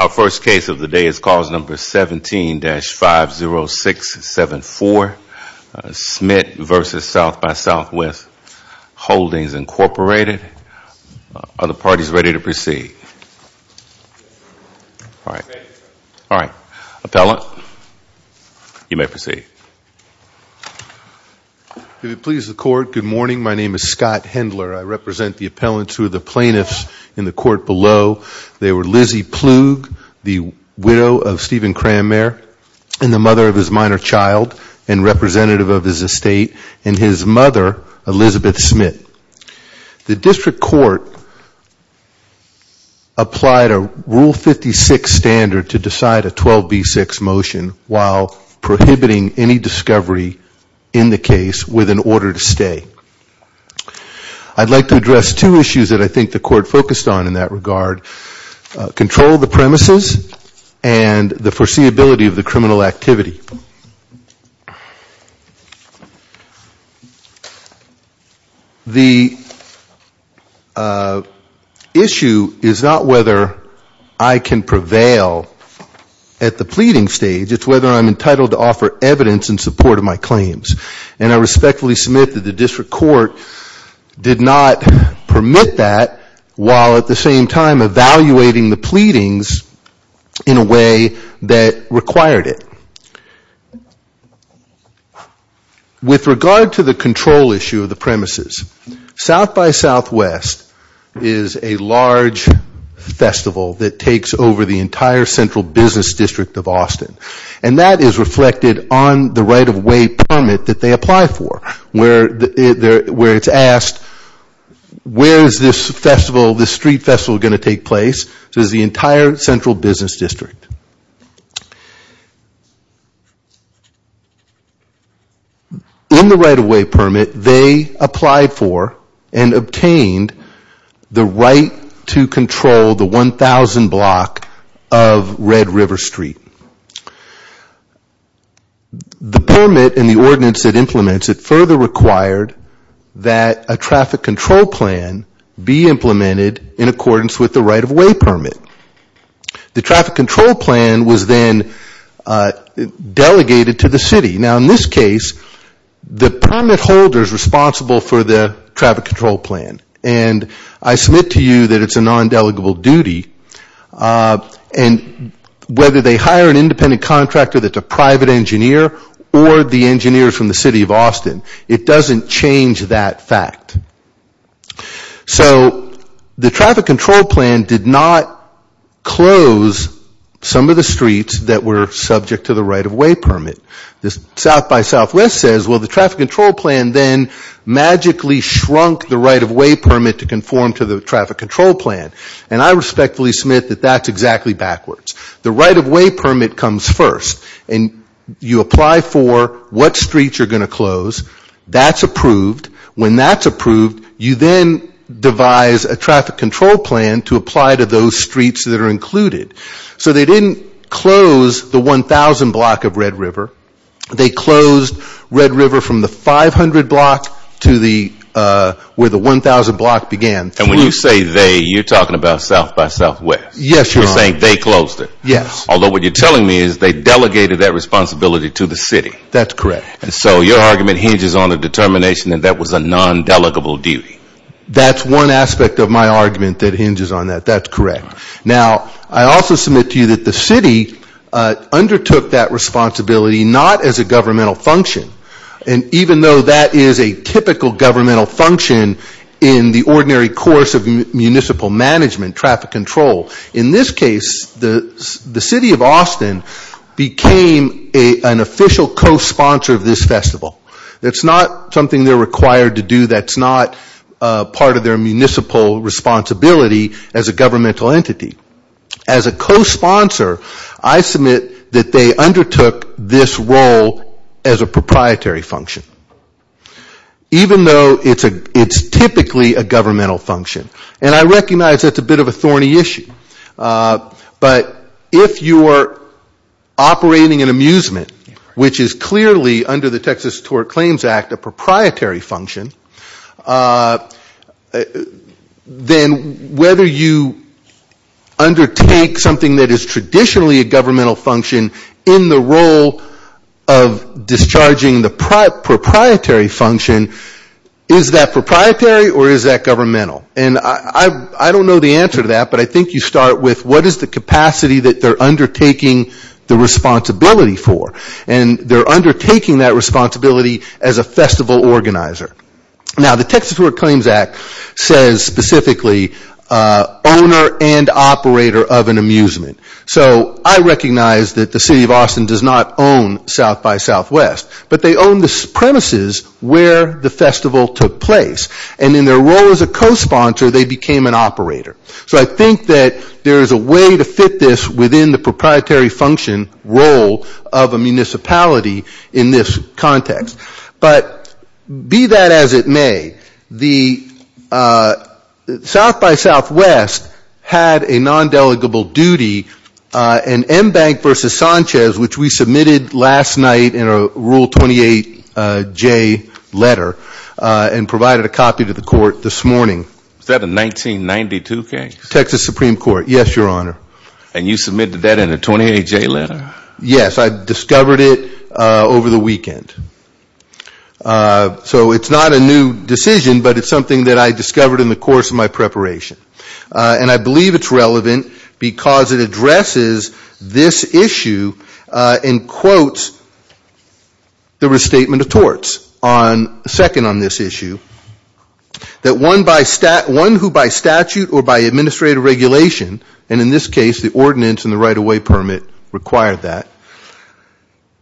Our first case of the day is cause number 17-50674, Smith v. SXSW Holdings, Incorporated. Are the parties ready to proceed? All right. Appellant, you may proceed. If it pleases the Court, good morning. My name is Scott Hendler. I represent the appellants who are the plaintiffs in the court below. They were Lizzy Plug, the widow of Stephen Cranmer, and the mother of his minor child and representative of his estate, and his mother, Elizabeth Smith. The District Court applied a Rule 56 standard to decide a 12b6 motion while prohibiting any discovery in the case with an order to stay. I'd like to address two issues that I think the Court focused on in that regard, control of the premises and the foreseeability of the criminal activity. The issue is not whether I can prevail at the pleading stage, it's whether I'm entitled to offer evidence in support of my claims. And I respectfully submit that the District Court did not permit that while at the same time evaluating the pleadings in a way that required it. With regard to the control issue of the premises, South by Southwest is a large festival that takes over the entire Central Business District of Austin. And that is reflected on the right-of-way permit that they apply for, where it's asked, where is this festival, this street festival going to take place, so it's the entire Central Business District. In the right-of-way permit, they applied for and obtained the right to control the 1,000 block of Red River Street. The permit and the ordinance it implements, it further required that a traffic control plan be implemented in accordance with the right-of-way permit. The traffic control plan was then delegated to the City. Now in this case, the permit holder is responsible for the traffic control plan, and I submit to you that it's a non-delegable duty. And whether they hire an independent contractor that's a private engineer or the engineers from the City of Austin, it doesn't change that fact. So the traffic control plan did not close some of the streets that were subject to the right-of-way permit. South by Southwest says, well, the traffic control plan then magically shrunk the right-of-way to conform to the traffic control plan. And I respectfully submit that that's exactly backwards. The right-of-way permit comes first, and you apply for what streets you're going to close. That's approved. When that's approved, you then devise a traffic control plan to apply to those streets that are included. So they didn't close the 1,000 block of Red River. They closed Red River from the 500 block to where the 1,000 block began. And when you say they, you're talking about South by Southwest. Yes, Your Honor. You're saying they closed it. Yes. Although what you're telling me is they delegated that responsibility to the City. That's correct. And so your argument hinges on the determination that that was a non-delegable duty. That's one aspect of my argument that hinges on that. That's correct. Now, I also submit to you that the City undertook that responsibility not as a governmental function. And even though that is a typical governmental function in the ordinary course of municipal management, traffic control, in this case, the City of Austin became an official co-sponsor of this festival. That's not something they're required to do. That's not part of their municipal responsibility as a governmental entity. As a co-sponsor, I submit that they undertook this role as a proprietary function. Even though it's typically a governmental function. And I recognize that's a bit of a thorny issue. But if you're operating an amusement, which is clearly under the Texas Tort Claims Act a proprietary function, then whether you undertake something that is traditionally a governmental function in the role of discharging the proprietary function, is that proprietary or is that governmental? And I don't know the answer to that. But I think you start with what is the capacity that they're undertaking the responsibility for? And they're undertaking that responsibility as a festival organizer. Now the Texas Tort Claims Act says specifically, owner and operator of an amusement. So I recognize that the City of Austin does not own South by Southwest. But they own the premises where the festival took place. And in their role as a co-sponsor, they became an operator. So I think that there is a way to fit this within the proprietary function role of a municipality in this context. But be that as it may, the South by Southwest had a non-delegable duty in MBank v. Sanchez, which we submitted last night in a Rule 28J letter and provided a copy to the court this morning. Is that a 1992 case? Texas Supreme Court, yes, Your Honor. And you submitted that in a 28J letter? Yes, I discovered it over the weekend. So it's not a new decision, but it's something that I discovered in the course of my preparation. And I believe it's relevant because it addresses this issue and quotes the restatement of torts second on this issue, that one who by statute or by administrative regulation, and in this case the ordinance and the right-of-way permit required that,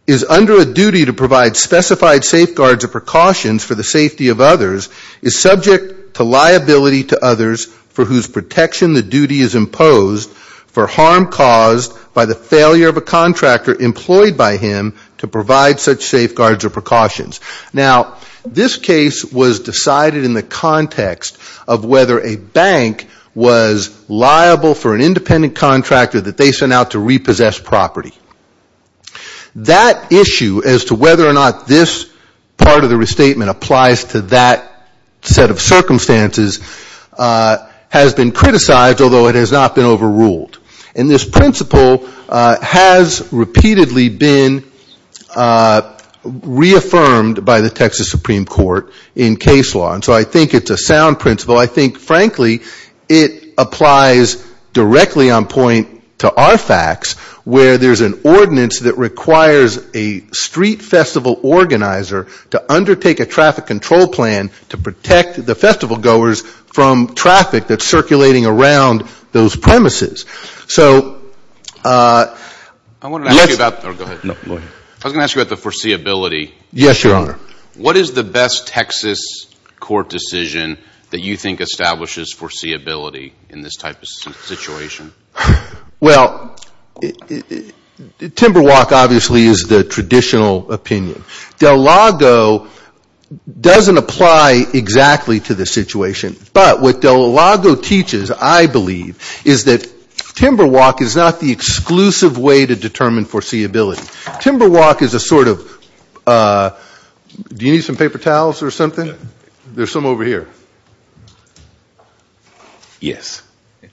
is under a duty to provide specified safeguards or precautions for the safety of others, is subject to liability to others for whose protection the duty is imposed for harm caused by the failure of a contractor employed by him to provide such safeguards or precautions. Now, this case was decided in the context of whether a bank was liable for an independent contractor that they sent out to repossess property. That issue as to whether or not this part of the restatement applies to that set of circumstances has been criticized, although it has not been overruled. And this principle has repeatedly been reaffirmed by the Texas Supreme Court in case law. And so I think it's a sound principle. I think, frankly, it applies directly on point to our facts where there's an ordinance that requires a street festival organizer to undertake a traffic control plan to protect the festival goers from traffic that's circulating around those premises. So – I wanted to ask you about – oh, go ahead. No, go ahead. I was going to ask you about the foreseeability. Yes, Your Honor. What is the best Texas court decision that you think establishes foreseeability in this type of situation? Well, Timberwalk obviously is the traditional opinion. Del Lago doesn't apply exactly to this situation. But what Del Lago teaches, I believe, is that Timberwalk is not the exclusive way to determine foreseeability. Timberwalk is a sort of – do you need some paper towels or something? There's some over here. Yes. I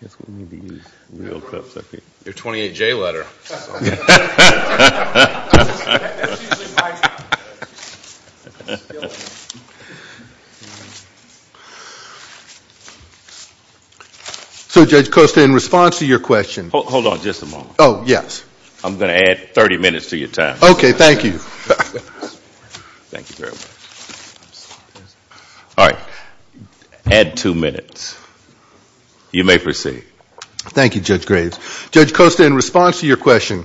guess we need to use real cups up here. Your 28-J letter. So Judge Costa, in response to your question – Hold on just a moment. Oh, yes. I'm going to add 30 minutes to your time. Okay. Thank you. Thank you very much. All right. Add two minutes. You may proceed. Thank you, Judge Graves. Judge Costa, in response to your question,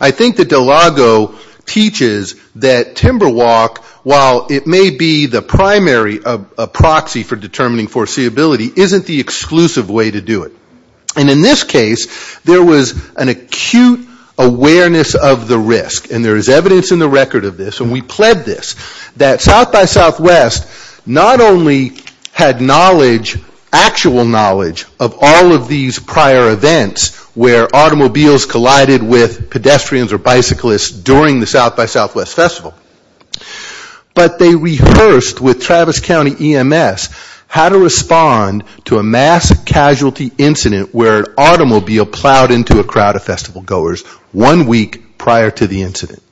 I think that Del Lago teaches that Timberwalk, while it may be the primary proxy for determining foreseeability, isn't the exclusive way to do it. And in this case, there was an acute awareness of the risk, and there is evidence in the not only had knowledge, actual knowledge, of all of these prior events where automobiles collided with pedestrians or bicyclists during the South by Southwest Festival, but they rehearsed with Travis County EMS how to respond to a mass casualty incident where an automobile plowed into a crowd of festival goers one week prior to the incident.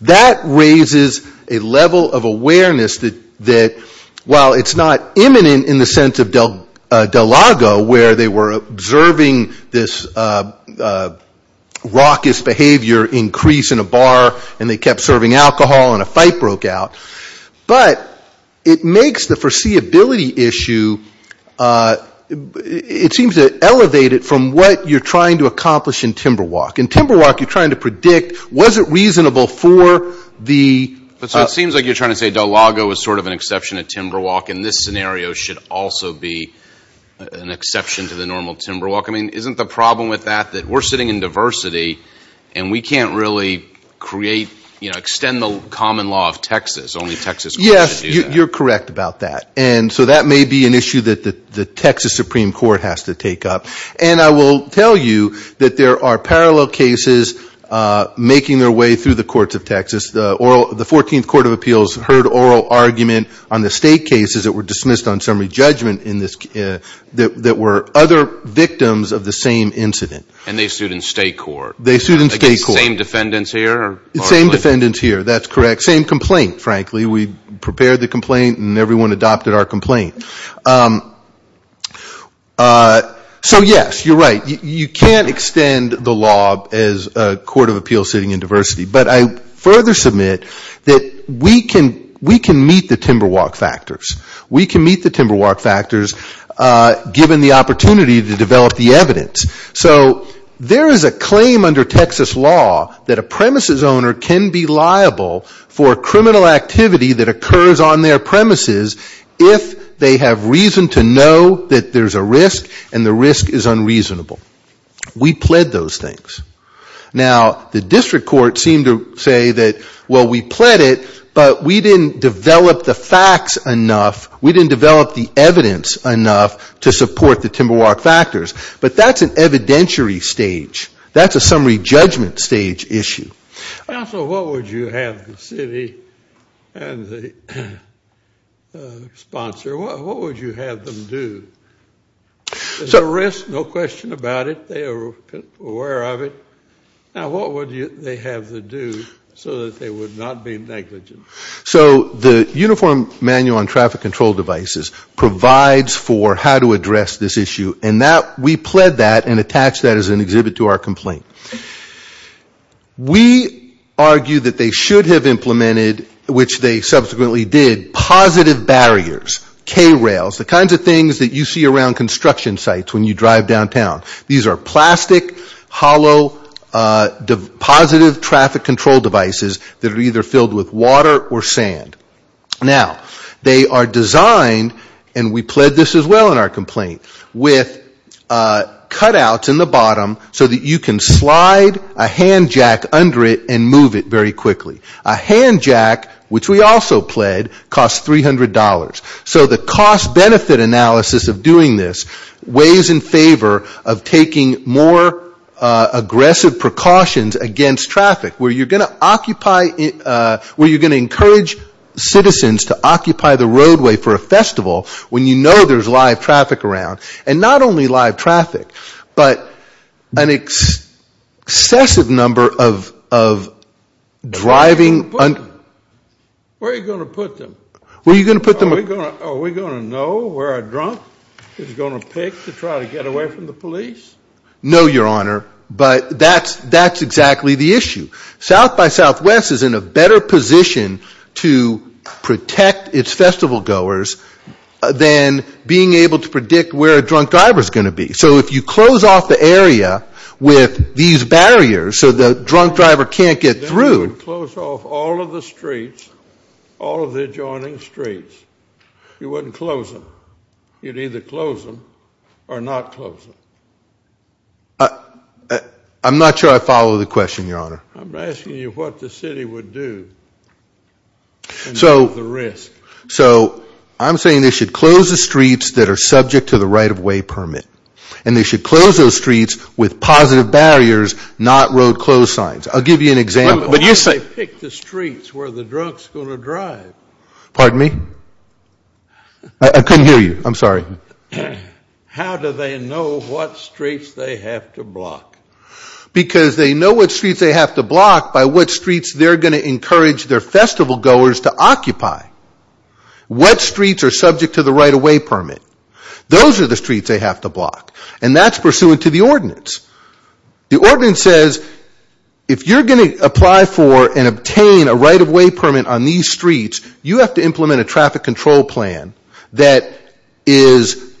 That raises a level of awareness that, while it's not imminent in the sense of Del Lago where they were observing this raucous behavior increase in a bar and they kept serving alcohol and a fight broke out, but it makes the foreseeability issue – it seems to elevate it from what you're trying to accomplish in Timberwalk. In Timberwalk, you're trying to predict, was it reasonable for the – But so it seems like you're trying to say Del Lago is sort of an exception to Timberwalk and this scenario should also be an exception to the normal Timberwalk. I mean, isn't the problem with that that we're sitting in diversity and we can't really create – extend the common law of Texas, only Texas would be able to do that? Yes, you're correct about that. And so that may be an issue that the Texas Supreme Court has to take up. And I will tell you that there are parallel cases making their way through the courts of Texas. The 14th Court of Appeals heard oral argument on the state cases that were dismissed on summary judgment that were other victims of the same incident. And they sued in state court. They sued in state court. Against the same defendants here? Same defendants here, that's correct. Same complaint, frankly. We prepared the complaint and everyone adopted our complaint. So yes, you're right. You can't extend the law as a court of appeals sitting in diversity. But I further submit that we can meet the Timberwalk factors. We can meet the Timberwalk factors given the opportunity to develop the evidence. So there is a claim under Texas law that a premises owner can be liable for criminal activity that occurs on their premises if they have reason to know that there's a risk and the risk is unreasonable. We pled those things. Now, the district court seemed to say that, well, we pled it, but we didn't develop the facts enough. We didn't develop the evidence enough to support the Timberwalk factors. But that's an evidentiary stage. That's a summary judgment stage issue. Counsel, what would you have the city and the sponsor, what would you have them do? Is there a risk? No question about it. They are aware of it. Now, what would they have to do so that they would not be negligent? So the uniform manual on traffic control devices provides for how to address this issue. And that, we pled that and attached that as an exhibit to our complaint. We argue that they should have implemented, which they subsequently did, positive barriers, K-rails, the kinds of things that you see around construction sites when you drive downtown. These are plastic, hollow, positive traffic control devices that are either filled with water or sand. Now, they are designed, and we pled this as well in our complaint, with cutouts in the bottom so that you can slide a hand jack under it and move it very quickly. A hand jack, which we also pled, costs $300. So the cost-benefit analysis of doing this weighs in favor of taking more aggressive precautions against traffic, where you're going to occupy, where you're going to encourage citizens to occupy the roadway for a festival when you know there's live traffic around. And not only live traffic, but an excessive number of driving. Where are you going to put them? Where are you going to put them? Are we going to know where a drunk is going to pick to try to get away from the police? No, Your Honor, but that's exactly the issue. South by Southwest is in a better position to protect its festival goers than being able to predict where a drunk driver is going to be. So if you close off the area with these barriers so the drunk driver can't get through. Then you would close off all of the streets, all of the adjoining streets. You wouldn't close them. You'd either close them or not close them. I'm not sure I follow the question, Your Honor. I'm asking you what the city would do and not the risk. So I'm saying they should close the streets that are subject to the right-of-way permit. And they should close those streets with positive barriers, not road closed signs. I'll give you an example, but you say. Why did they pick the streets where the drunk's going to drive? Pardon me? I couldn't hear you. I'm sorry. How do they know what streets they have to block? Because they know what streets they have to block by what streets they're going to encourage their festival goers to occupy. What streets are subject to the right-of-way permit? Those are the streets they have to block. And that's pursuant to the ordinance. The ordinance says if you're going to apply for and obtain a right-of-way permit on these streets, you have to implement a traffic control plan that is,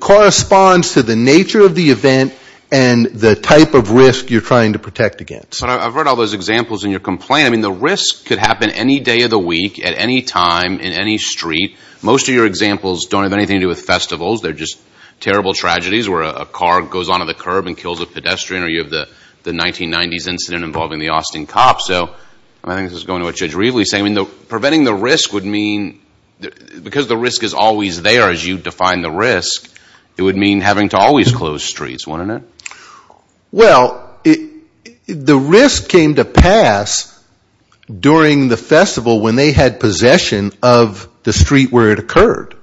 corresponds to the nature of the event and the type of risk you're trying to protect against. But I've heard all those examples in your complaint. I mean, the risk could happen any day of the week, at any time, in any street. Most of your examples don't have anything to do with festivals. They're just terrible tragedies where a car goes onto the curb and kills a pedestrian. Or you have the 1990s incident involving the Austin Cop. So, I think this is going to what Judge Reveley's saying. I mean, preventing the risk would mean, because the risk is always there as you define the risk, it would mean having to always close streets, wouldn't it? Well, the risk came to pass during the festival when they had possession of the street where it occurred.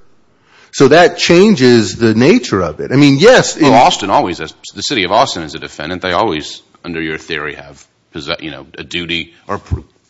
So, that changes the nature of it. I mean, yes. Well, Austin always has, the city of Austin is a defendant. They always, under your theory, have, you know, a duty or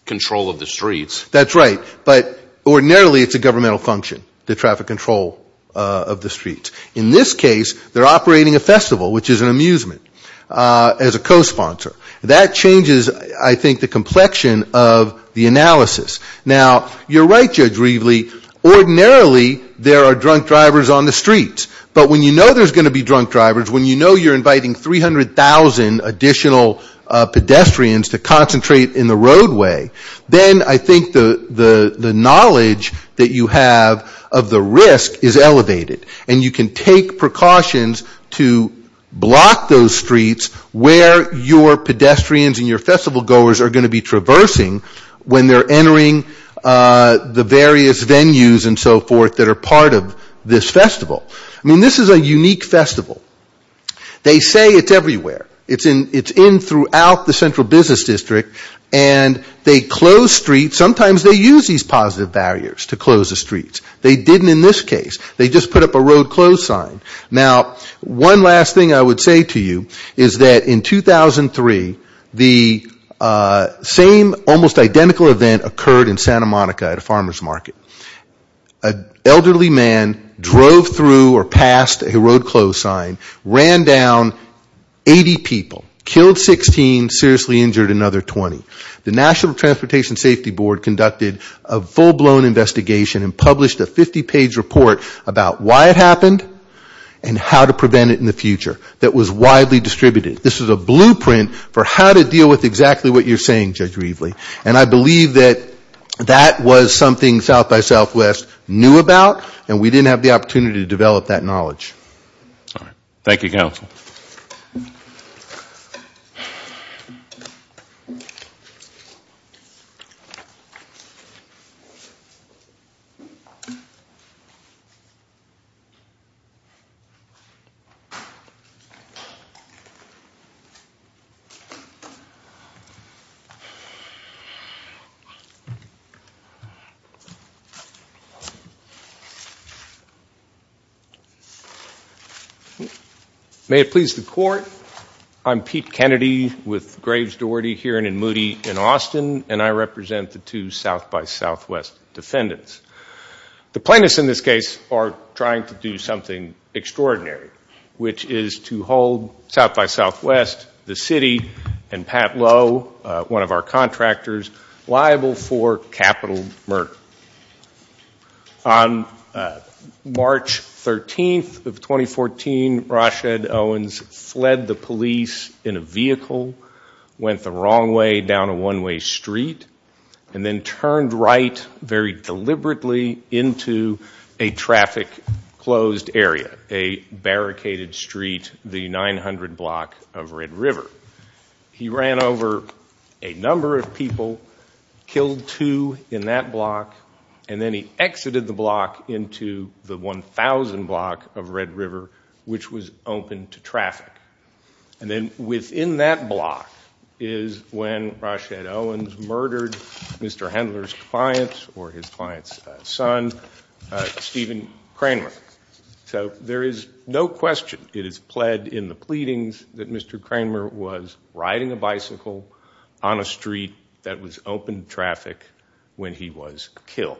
control of the streets. That's right. But ordinarily, it's a governmental function, the traffic control of the streets. In this case, they're operating a festival, which is an amusement, as a co-sponsor. That changes, I think, the complexion of the analysis. Now, you're right, Judge Reveley. Ordinarily, there are drunk drivers on the streets. But when you know there's going to be drunk drivers, when you know you're inviting 300,000 additional pedestrians to concentrate in the roadway, then I think the knowledge that you have of the risk is elevated. And you can take precautions to block those streets where your pedestrians and your festival goers are going to be traversing when they're entering the various venues and so forth that are part of this festival. I mean, this is a unique festival. They say it's everywhere. It's in throughout the central business district. And they close streets. Sometimes they use these positive barriers to close the streets. They didn't in this case. They just put up a road close sign. Now, one last thing I would say to you is that in 2003, the same almost identical event occurred in Santa Monica at a farmer's market. An elderly man drove through or passed a road close sign, ran down 80 people, killed 16, seriously injured another 20. The National Transportation Safety Board conducted a full-blown investigation and published a 50-page report about why it happened and how to prevent it in the future that was widely distributed. This is a blueprint for how to deal with exactly what you're saying, Judge Rieveley. And I believe that that was something South by Southwest knew about and we didn't have the opportunity to develop that knowledge. All right. Thank you, counsel. May it please the court. I'm Pete Kennedy with Graves Doherty here in Moody in Austin. And I represent the two South by Southwest defendants. The plaintiffs in this case are trying to do something extraordinary, which is to hold South by Southwest, the city, and Pat Lowe, one of our contractors, liable for capital murder. On March 13th of 2014, Rashad Owens fled the police in a vehicle, went the wrong way down a one-way street, and then turned right very deliberately into a traffic-closed area, a barricaded street, the 900 block of Red River. He ran over a number of people, killed two in that block, and then he exited the block into the 1,000 block of Red River, which was open to traffic. And then within that block is when Rashad Owens murdered Mr. Handler's client or his client's son, Stephen Kramer. So there is no question, it is pled in the pleadings that Mr. Kramer was riding a bicycle on a street that was open to traffic when he was killed.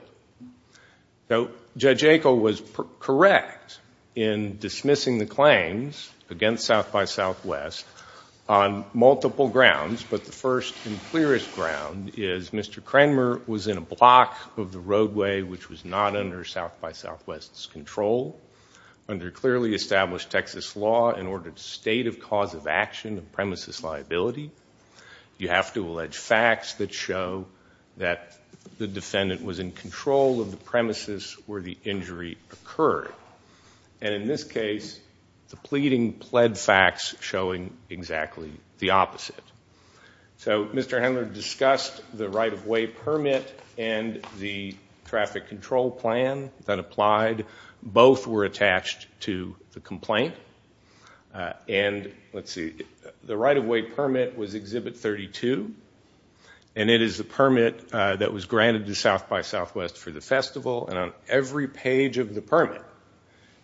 So Judge Ako was correct in dismissing the claims against South by Southwest on multiple grounds, but the first and clearest ground is Mr. Kramer was in a block of the roadway which was not under South by Southwest's control under clearly established Texas law and ordered state of cause of action of premises liability. You have to allege facts that show that the defendant was in control of the premises where the injury occurred. And in this case, the pleading pled facts showing exactly the opposite. So Mr. Handler discussed the right-of-way permit and the traffic control plan that applied, both were attached to the complaint. And let's see, the right-of-way permit was Exhibit 32 and it is the permit that was granted to South by Southwest for the festival and on every page of the permit,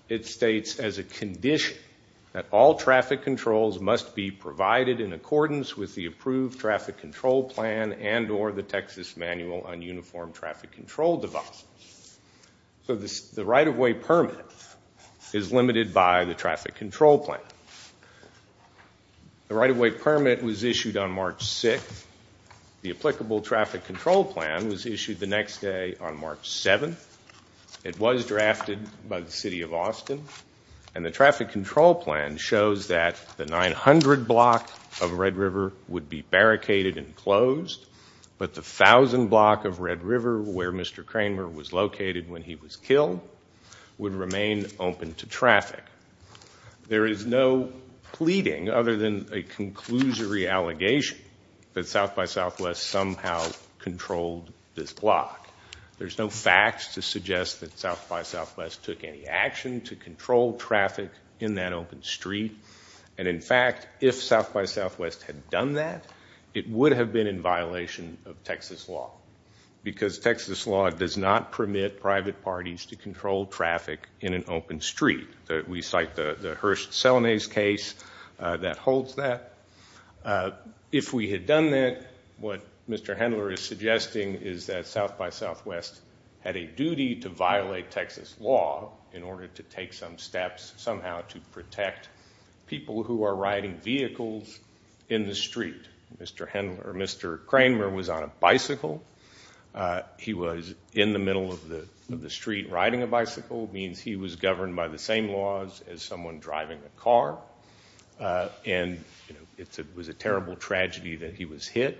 it states as a condition that all traffic controls must be provided in accordance with the approved traffic control plan and or the Texas manual on uniform traffic control device. So the right-of-way permit is limited by the traffic control plan. The right-of-way permit was issued on March 6th. The applicable traffic control plan was issued the next day on March 7th. It was drafted by the City of Austin and the traffic control plan shows that the 900 block of Red River would be barricaded and closed, but the 1,000 block of Red River where Mr. Kramer was located when he was killed would remain open to traffic. There is no pleading other than a conclusory allegation that South by Southwest somehow controlled this block. There's no facts to suggest that South by Southwest took any action to control traffic in that open street. And in fact, if South by Southwest had done that, it would have been in violation of Texas law because Texas law does not permit private parties to control traffic in an open street. We cite the Hearst-Selenay's case that holds that. If we had done that, what Mr. Hendler is suggesting is that South by Southwest had a duty to violate Texas law in order to take some steps somehow to protect people who are riding vehicles in the street. Mr. Kramer was on a bicycle. He was in the middle of the street riding a bicycle, means he was governed by the same laws as someone driving a car and it was a terrible tragedy that he was hit,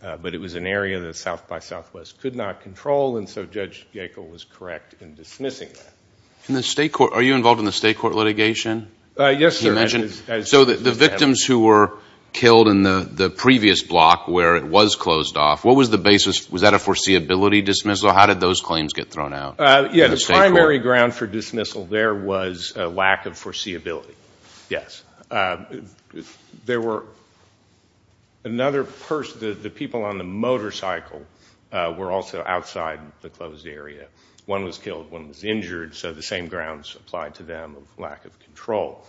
but it was an area that South by Southwest could not control and so Judge Gakel was correct in dismissing that. In the state court, are you involved in the state court litigation? Yes, sir. So the victims who were killed in the previous block where it was closed off, what was the basis, was that a foreseeability dismissal? How did those claims get thrown out? Yeah, the primary ground for dismissal there was a lack of foreseeability. Yes. There were another person, the people on the motorcycle were also outside the closed area. One was killed, one was injured, so the same grounds applied to them, lack of control.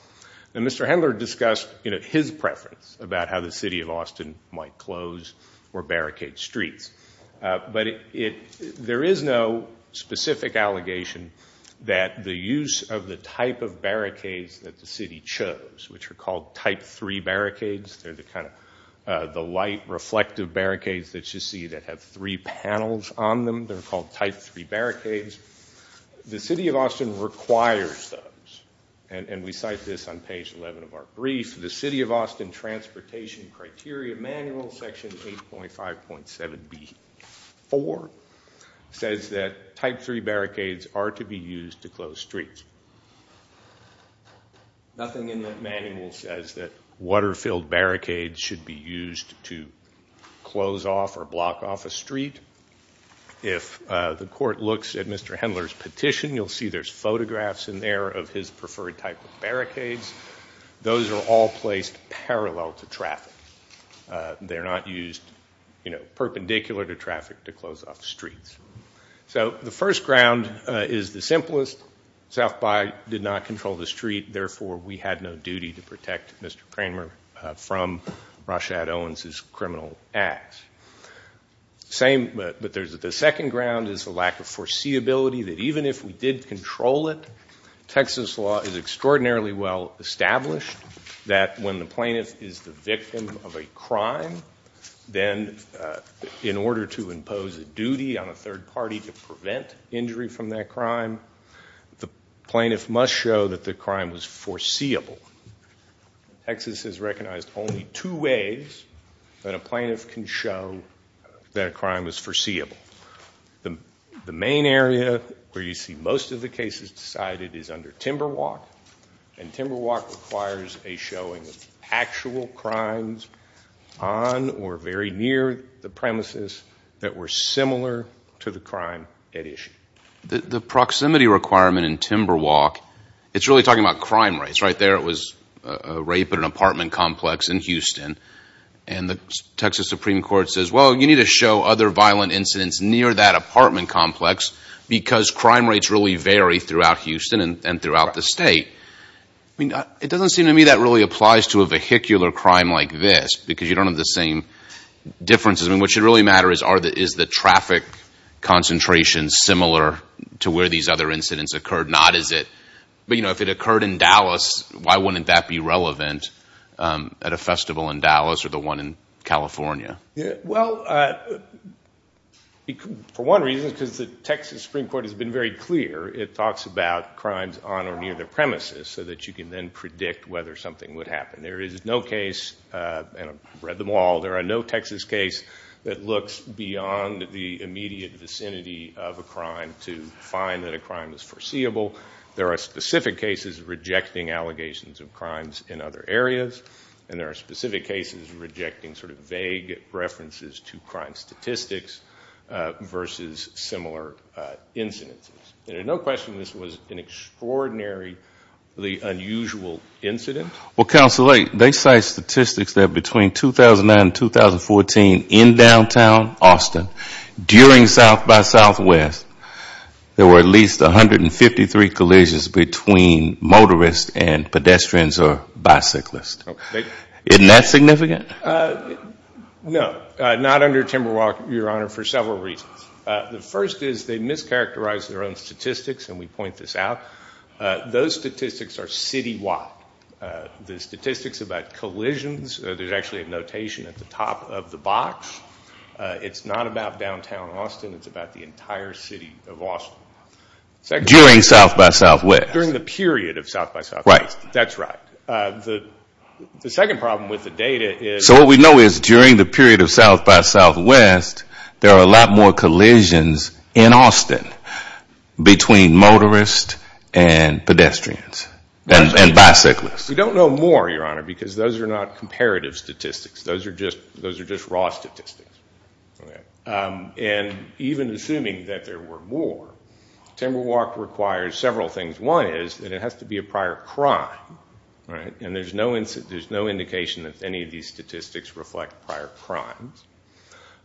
And Mr. Hendler discussed, you know, his preference about how the city of Austin might close or barricade streets. But there is no specific allegation that the use of the type of barricades that the city chose, which are called type three barricades, they're the kind of the light reflective barricades that you see that have three panels on them. They're called type three barricades. The city of Austin requires those. And we cite this on page 11 of our brief. The city of Austin transportation criteria manual, section 8.5.7B4, says that type three barricades are to be used to close streets. Nothing in that manual says that water-filled barricades should be used to close off or block off a street. If the court looks at Mr. Hendler's petition, you'll see there's photographs in there of his preferred type of barricades. Those are all placed parallel to traffic. They're not used, you know, perpendicular to traffic to close off streets. So the first ground is the simplest. South By did not control the street, therefore we had no duty to protect Mr. Kramer from Rashad Owens' criminal acts. Same, but there's the second ground is the lack of foreseeability that even if we did control it, Texas law is extraordinarily well established that when the plaintiff is the victim of a crime, then in order to impose a duty on a third party to prevent injury from that crime, the plaintiff must show that the crime was foreseeable. Texas has recognized only two ways that a plaintiff can show that a crime was foreseeable. The main area where you see most of the cases decided is under timber walk and timber walk requires a showing of actual crimes on or very near the premises that were similar to the crime at issue. The proximity requirement in timber walk, it's really talking about crime rates. Right there it was a rape at an apartment complex in Houston and the Texas Supreme Court says, well, you need to show other violent incidents near that apartment complex because crime rates really vary throughout Houston and throughout the state. I mean, it doesn't seem to me that really applies to a vehicular crime like this because you don't have the same differences. I mean, what should really matter is the traffic concentration similar to where these other incidents occurred. Not is it, you know, if it occurred in Dallas, why wouldn't that be relevant at a festival in Dallas or the one in California? Well, for one reason, because the Texas Supreme Court has been very clear, it talks about crimes on or near the premises so that you can then predict whether something would happen. There is no case, and I've read them all, there are no Texas case that looks beyond the immediate vicinity of a crime to find that a crime is foreseeable. There are specific cases rejecting allegations of crimes in other areas and there are specific cases rejecting sort of vague references to crime statistics versus similar incidences. There's no question this was an extraordinarily unusual incident. Well, Counselor Layton, they cite statistics that between 2009 and 2014 in downtown Austin, during South by Southwest, there were at least 153 collisions between motorists and pedestrians or bicyclists. Isn't that significant? No. Not under Timberwalk, Your Honor, for several reasons. The first is they mischaracterized their own statistics and we point this out. Those statistics are citywide. The statistics about collisions, there's actually a notation at the top of the box. It's not about downtown Austin. It's about the entire city of Austin. During South by Southwest. During the period of South by Southwest. Right. That's right. The second problem with the data is. So what we know is during the period of South by Southwest, there are a lot more collisions in Austin between motorists and pedestrians and bicyclists. We don't know more, Your Honor, because those are not comparative statistics. Those are just raw statistics. And even assuming that there were more, Timberwalk requires several things. One is that it has to be a prior crime. Right. And there's no indication that any of these statistics reflect prior crimes.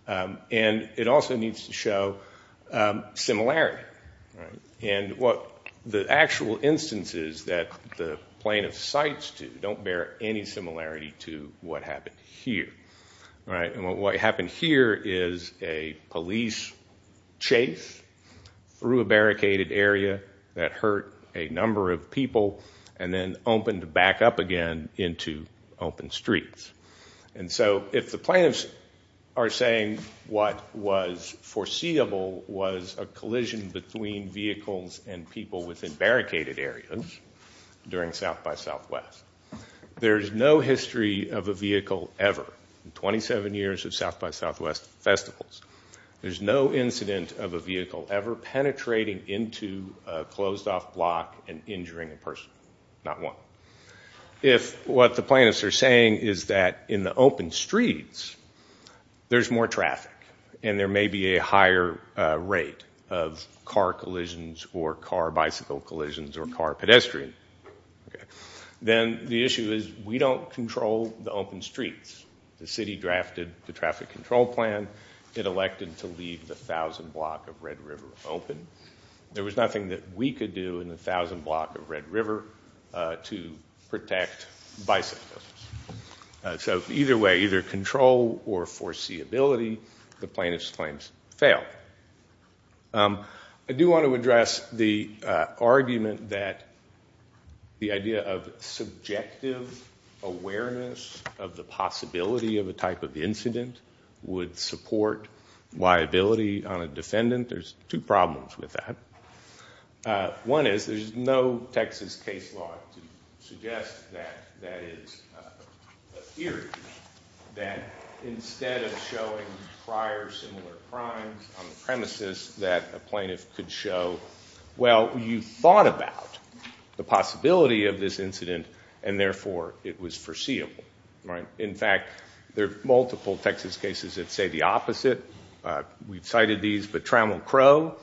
And it also needs to show similarity. Right. And what the actual instances that the plaintiff cites to don't bear any similarity to what happened here. Right. And what happened here is a police chase through a barricaded area that hurt a number of people and then opened back up again into open streets. And so if the plaintiffs are saying what was foreseeable was a collision between vehicles and people within barricaded areas during South by Southwest, there's no history of a vehicle ever in 27 years of South by Southwest festivals. There's no incident of a vehicle ever penetrating into a closed-off block and injuring a person, not one. If what the plaintiffs are saying is that in the open streets, there's more traffic and there may be a higher rate of car collisions or car bicycle collisions or car pedestrian, then the issue is we don't control the open streets. The city drafted the traffic control plan. It elected to leave the 1,000 block of Red River open. There was nothing that we could do in the 1,000 block of Red River to protect bicyclists. So either way, either control or foreseeability, the plaintiff's claims fail. I do want to address the argument that the idea of subjective awareness of the possibility of a type of incident would support liability on a defendant. There's two problems with that. One is there's no Texas case law to suggest that that is a theory, that instead of showing prior similar crimes on the premises, that a plaintiff could show, well, you thought about the possibility of this incident, and therefore, it was foreseeable. In fact, there are multiple Texas cases that say the opposite. We've cited these, but Trammell Crowe,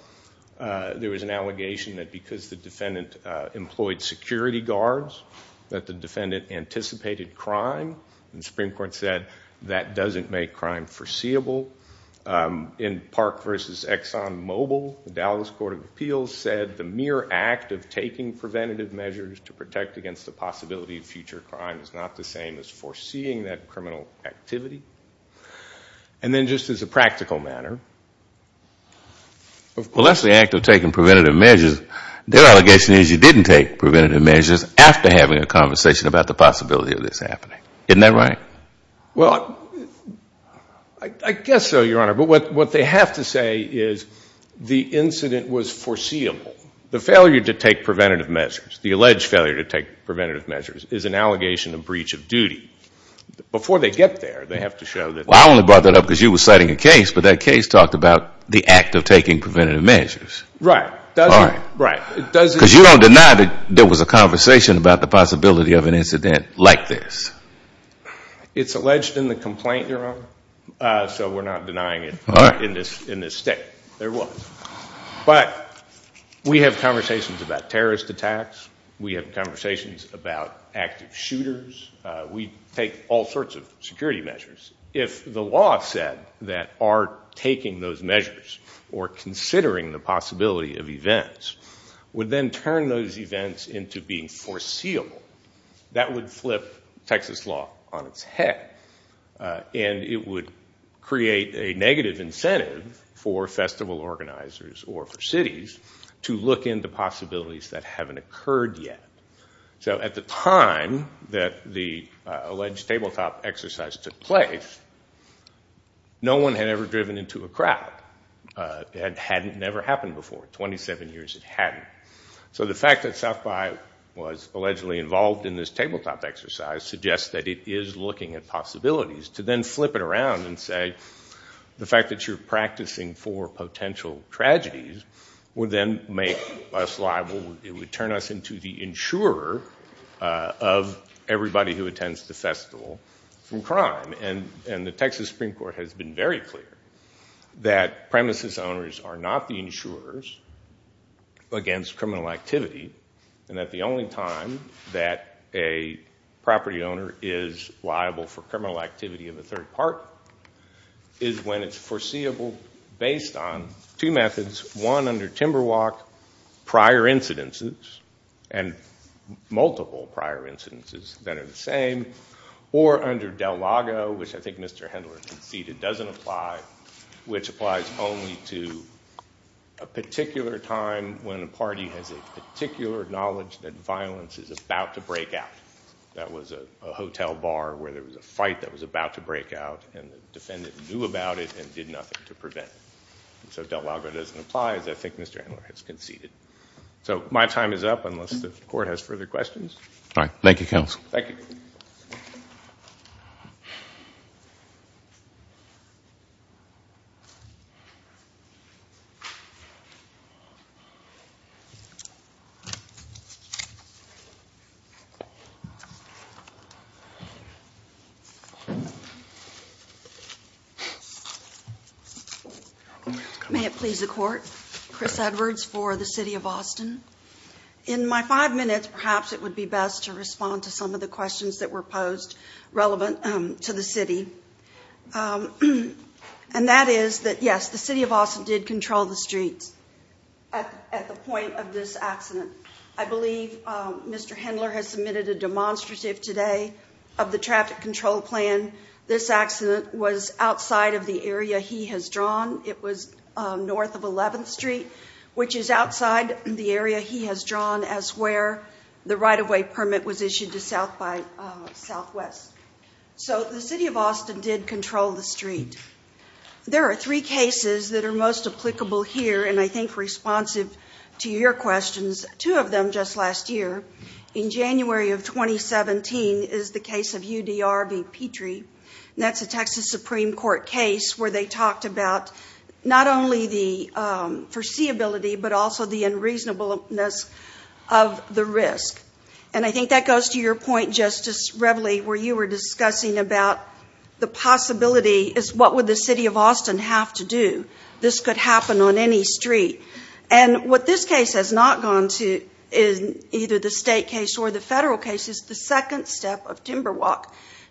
there was an allegation that because the defendant employed security guards, that the defendant anticipated crime, and the Supreme Court said that doesn't make crime foreseeable. In Park v. Exxon Mobil, the Dallas Court of Appeals said the mere act of taking preventative measures to protect against the possibility of future crime is not the same as foreseeing that criminal activity. And then just as a practical matter, unless the act of taking preventative measures, their allegation is you didn't take preventative measures after having a conversation about the possibility of this happening. Isn't that right? Well, I guess so, Your Honor, but what they have to say is the incident was foreseeable. The failure to take preventative measures, the alleged failure to take preventative measures, is an allegation of breach of duty. Before they get there, they have to show that. Well, I only brought that up because you were citing a case, but that case talked about the act of taking preventative measures. Right. Right. Because you don't deny that there was a conversation about the possibility of an incident like this. It's alleged in the complaint, Your Honor, so we're not denying it in this state. There was. But we have conversations about terrorist attacks. We have conversations about active shooters. We take all sorts of security measures. If the law said that our taking those measures or considering the possibility of events would then turn those events into being foreseeable, that would flip Texas law on its head. And it would create a negative incentive for festival organizers or for cities to look into possibilities that haven't occurred yet. So at the time that the alleged tabletop exercise took place, no one had ever driven into a crowd that hadn't ever happened before. Twenty-seven years it hadn't. So the fact that South By was allegedly involved in this tabletop exercise suggests that it is looking at possibilities to then flip it around and say the fact that you're practicing for potential tragedies would then make us liable. It would turn us into the insurer of everybody who attends the festival from crime. And the Texas Supreme Court has been very clear that premises owners are not the insurers against criminal activity. And that the only time that a property owner is liable for criminal activity in the third part is when it's foreseeable based on two methods, one under Timberwalk prior incidences and multiple prior incidences that are the same or under Del Lago, which I think Mr. Hendler conceded doesn't apply, which applies only to a particular time when a party has a particular knowledge that violence is about to break out. That was a hotel bar where there was a fight that was about to break out and the defendant knew about it and did nothing to prevent it. So Del Lago doesn't apply as I think Mr. Hendler has conceded. So my time is up unless the court has further questions. Thank you, counsel. Thank you. May it please the court. In my five minutes, perhaps it would be best to respond to some of the questions that were posed relevant to the city. And that is that yes, the city of Austin did control the streets at the point of this accident. I believe Mr. Hendler has submitted a demonstrative today of the traffic control plan. This accident was outside of the area he has drawn. It was north of 11th Street, which is outside the area he has drawn as where the right-of-way permit was issued to South by Southwest. So the city of Austin did control the street. There are three cases that are most applicable here and I think responsive to your questions, two of them just last year. In January of 2017 is the case of UDR v. Petrie. That's a Texas Supreme Court case where they talked about not only the foreseeability but also the unreasonableness of the risk. And I think that goes to your point, Justice Reveley, where you were discussing about the possibility is what would the city of Austin have to do? This could happen on any street. And what this case has not gone to is either the state case or the federal case is the second step of Timberwalk.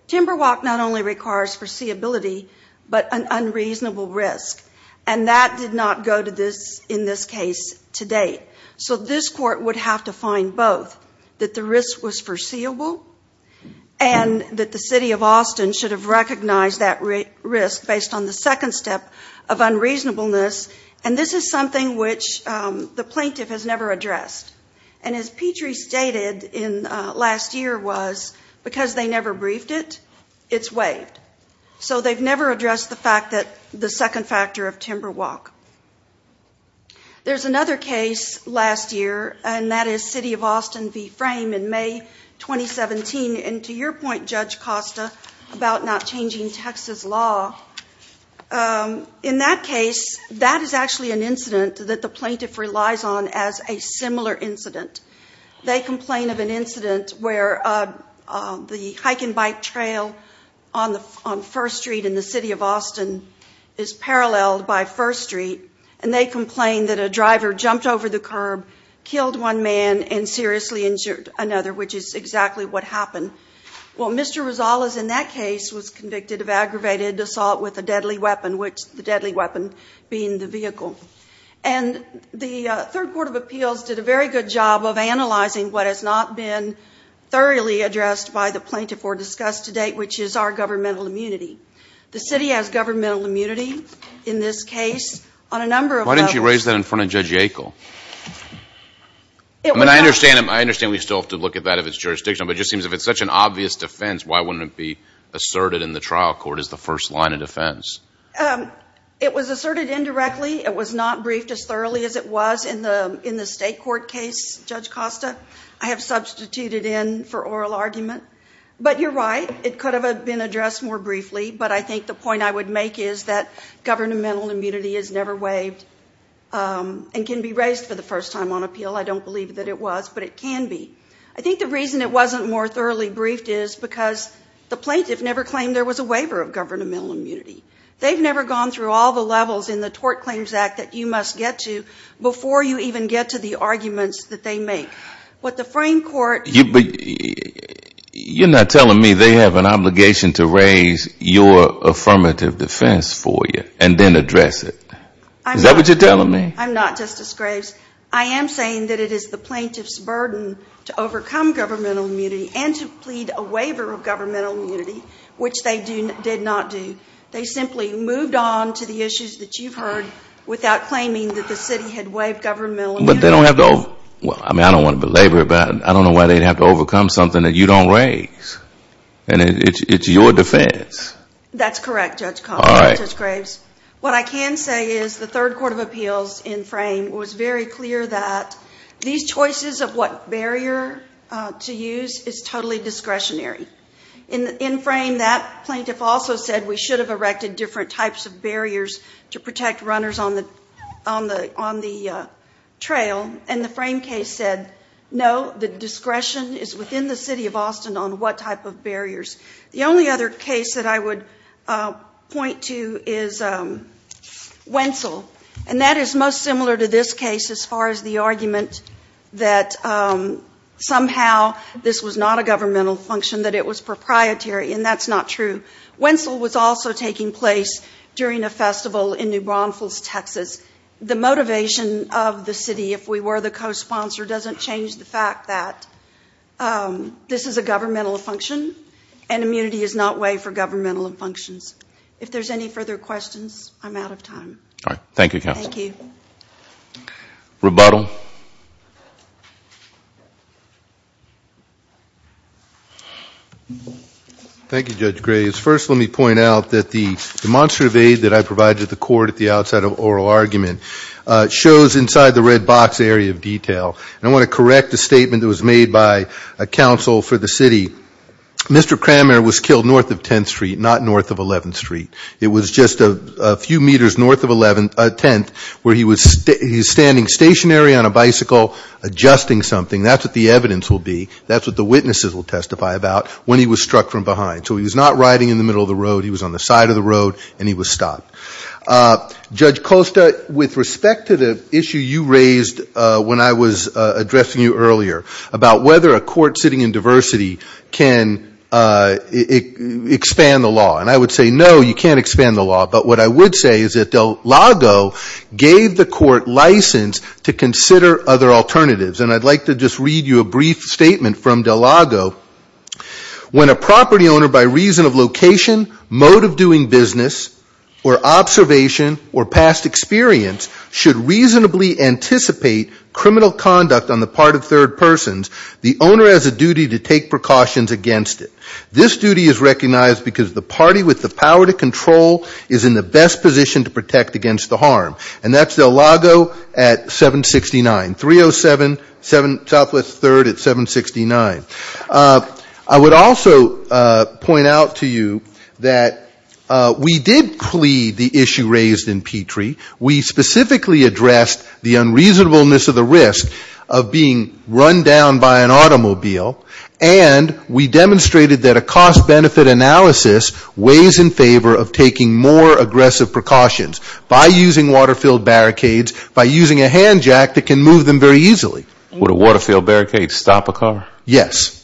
Timberwalk not only requires foreseeability but an unreasonable risk. And that did not go to this in this case today. So this court would have to find both, that the risk was foreseeable and that the city of Austin should have recognized that risk based on the second step of unreasonableness. And this is something which the plaintiff has never addressed. And as Petrie stated in last year was because they never briefed it, it's waived. So they've never addressed the fact that the second factor of Timberwalk. There's another case last year and that is city of Austin v. Frame in May 2017. And to your point, Judge Costa, about not changing Texas law, in that case, that is actually an incident that the plaintiff relies on as a similar incident. They complain of an incident where the hike and bike trail on First Street in the city of Austin is paralleled by First Street and they complain that a driver jumped over the curb, killed one man and seriously injured another, which is exactly what happened. Well, Mr. Rosales in that case was convicted of aggravated assault with a deadly weapon, which the deadly weapon being the vehicle. And the Third Court of Appeals did a very good job of analyzing what has not been thoroughly addressed by the plaintiff or discussed to date, which is our governmental immunity. The city has governmental immunity in this case on a number of levels. Why didn't you raise that in front of Judge Yackel? I mean, I understand we still have to look at that if it's jurisdictional, but it just seems if it's such an obvious defense, why wouldn't it be asserted in the trial court as the first line of defense? It was asserted indirectly. It was not briefed as thoroughly as it was in the state court case, Judge Costa. I have substituted in for oral argument. But you're right, it could have been addressed more briefly, but I think the point I would make is that governmental immunity is never waived and can be raised for the first time on appeal. I don't believe that it was, but it can be. I think the reason it wasn't more thoroughly briefed is because the plaintiff never claimed there was a waiver of governmental immunity. They've never gone through all the levels in the Tort Claims Act that you must get to before you even get to the arguments that they make. What the frame court You're not telling me they have an obligation to raise your affirmative defense for you and then address it. Is that what you're telling me? I'm not, Justice Graves. I am saying that it is the plaintiff's burden to overcome governmental immunity and to plead a waiver of governmental immunity, which they did not do. They simply moved on to the issues that you've heard without claiming that the city had waived governmental immunity. But they don't have to, I mean I don't want to belabor it, but I don't know why they'd have to overcome something that you don't raise. And it's your defense. That's correct, Judge Costa, Justice Graves. What I can say is the third court of appeals in frame was very clear that these choices of what barrier to use is totally discretionary. In frame, that plaintiff also said we should have erected different types of barriers to protect runners on the trail, and the frame case said no, the discretion is within the city of Austin on what type of barriers. The only other case that I would point to is Wentzel, and that is most similar to this case as far as the argument that somehow this was not a governmental function, that it was proprietary, and that's not true. Wentzel was also taking place during a festival in New Braunfels, Texas. The motivation of the city, if we were the co-sponsor, doesn't change the fact that this is a governmental function, and immunity is not waived for governmental functions. If there's any further questions, I'm out of time. Thank you, counsel. Rebuttal. Thank you, Judge Graves. First, let me point out that the demonstrative aid that I provided to the court at the outside of oral argument shows inside the red box area of detail, and I want to correct the statement that was made by counsel for the city. Mr. Cranmer was killed north of 10th Street, not north of 11th Street. It was just a few meters north of 10th where he was standing stationary on a bicycle adjusting something. That's what the evidence will be. That's what the witnesses will testify about when he was struck from behind. So he was not riding in the middle of the road. He was on the side of the road, and he was stopped. Judge Costa, with respect to the issue you raised when I was addressing you earlier about whether a court sitting in diversity can expand the law, and I would say no. You can't expand the law, but what I would say is that Del Lago gave the court license to consider other alternatives, and I'd like to just read you a brief statement from Del Lago. When a property owner by reason of location, mode of doing business, or observation, or past experience should reasonably anticipate criminal conduct on the part of third persons, the owner has a duty to take precautions against it. This duty is recognized because the party with the power to control is in the best position to protect against the harm, and that's Del Lago at 769. 307 Southwest 3rd at 769. I would also point out to you that we did plead the issue raised in Petrie. We specifically addressed the unreasonableness of the risk of being run down by an automobile, and we demonstrated that a cost-benefit analysis weighs in favor of taking more aggressive precautions by using water-filled barricades, by using a hand jack that can move them very easily. Would a water-filled barricade stop a car? Yes.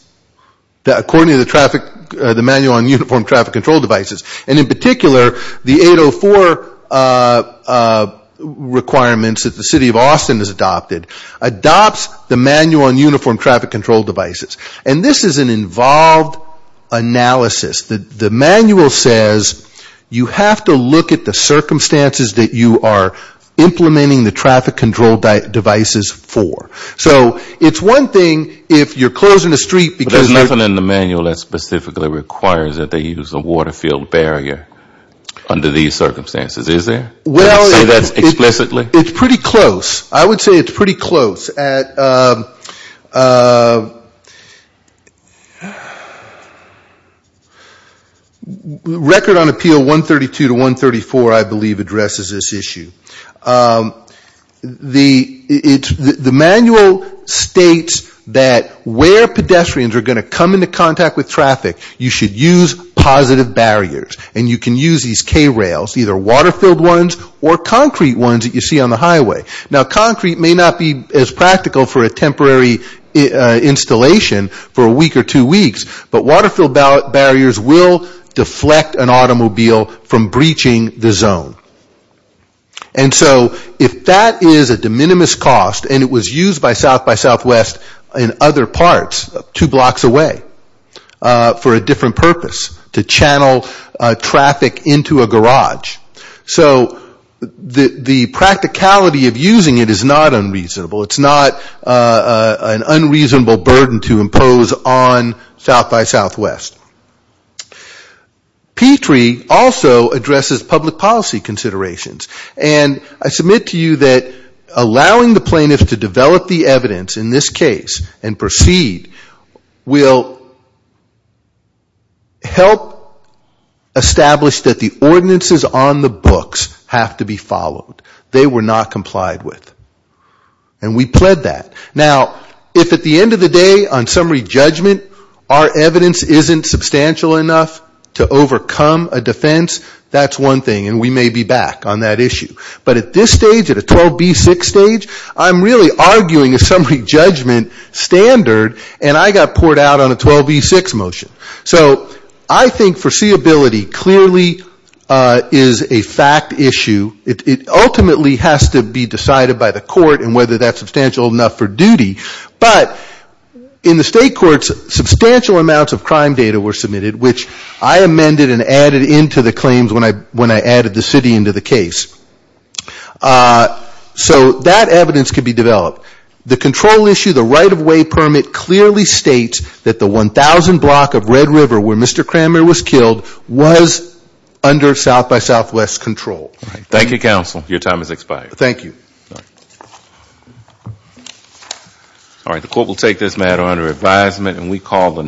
According to the traffic, the manual on uniform traffic control devices, and in particular the 804 requirements that the city of Austin has adopted, adopts the manual on uniform traffic control devices. And this is an involved analysis. The manual says you have to look at the circumstances that you are implementing the traffic control devices for. So it's one thing if you're closing a street because But there's nothing in the manual that specifically requires that they use a water-filled barrier under these circumstances, is there? Well Can you say that explicitly? It's pretty close. I would say it's pretty close. Record on Appeal 132 to 134, I believe, addresses this issue. The manual states that where pedestrians are going to come into contact with traffic, you should use positive barriers. And you can use these K-rails, either water-filled ones or concrete ones that you see on the highway. Now, concrete may not be as practical for a temporary installation for a week or two weeks, but water-filled barriers will deflect an automobile from breaching the zone. And so if that is a de minimis cost, and it was used by South by Southwest in other parts, two blocks away, for a different purpose, to channel traffic into a garage. So the practicality of using it is not unreasonable. It's not an unreasonable burden to impose on South by Southwest. P3 also addresses public policy considerations. And I submit to you that allowing the plaintiffs to develop the evidence in this case and proceed will help establish that the ordinances on the books have to be followed. They were not complied with. And we pled that. Now, if at the end of the day, on summary judgment, our evidence isn't substantial enough to overcome a defense, that's one thing. And we may be back on that issue. But at this stage, at a 12B6 stage, I'm really arguing a summary judgment standard and I got poured out on a 12B6 motion. So I think foreseeability clearly is a fact issue. It ultimately has to be decided by the court and whether that's substantial enough for duty. But in the state courts, substantial amounts of crime data were submitted, which I amended and added into the claims when I added the city into the case. So that evidence could be developed. The control issue, the right-of-way permit clearly states that the 1,000 block of Red River where Mr. Cranmer was killed was under South by Southwest control. Thank you, counsel. Your time has expired. Thank you. All right. The court will take this matter under advisement and we call the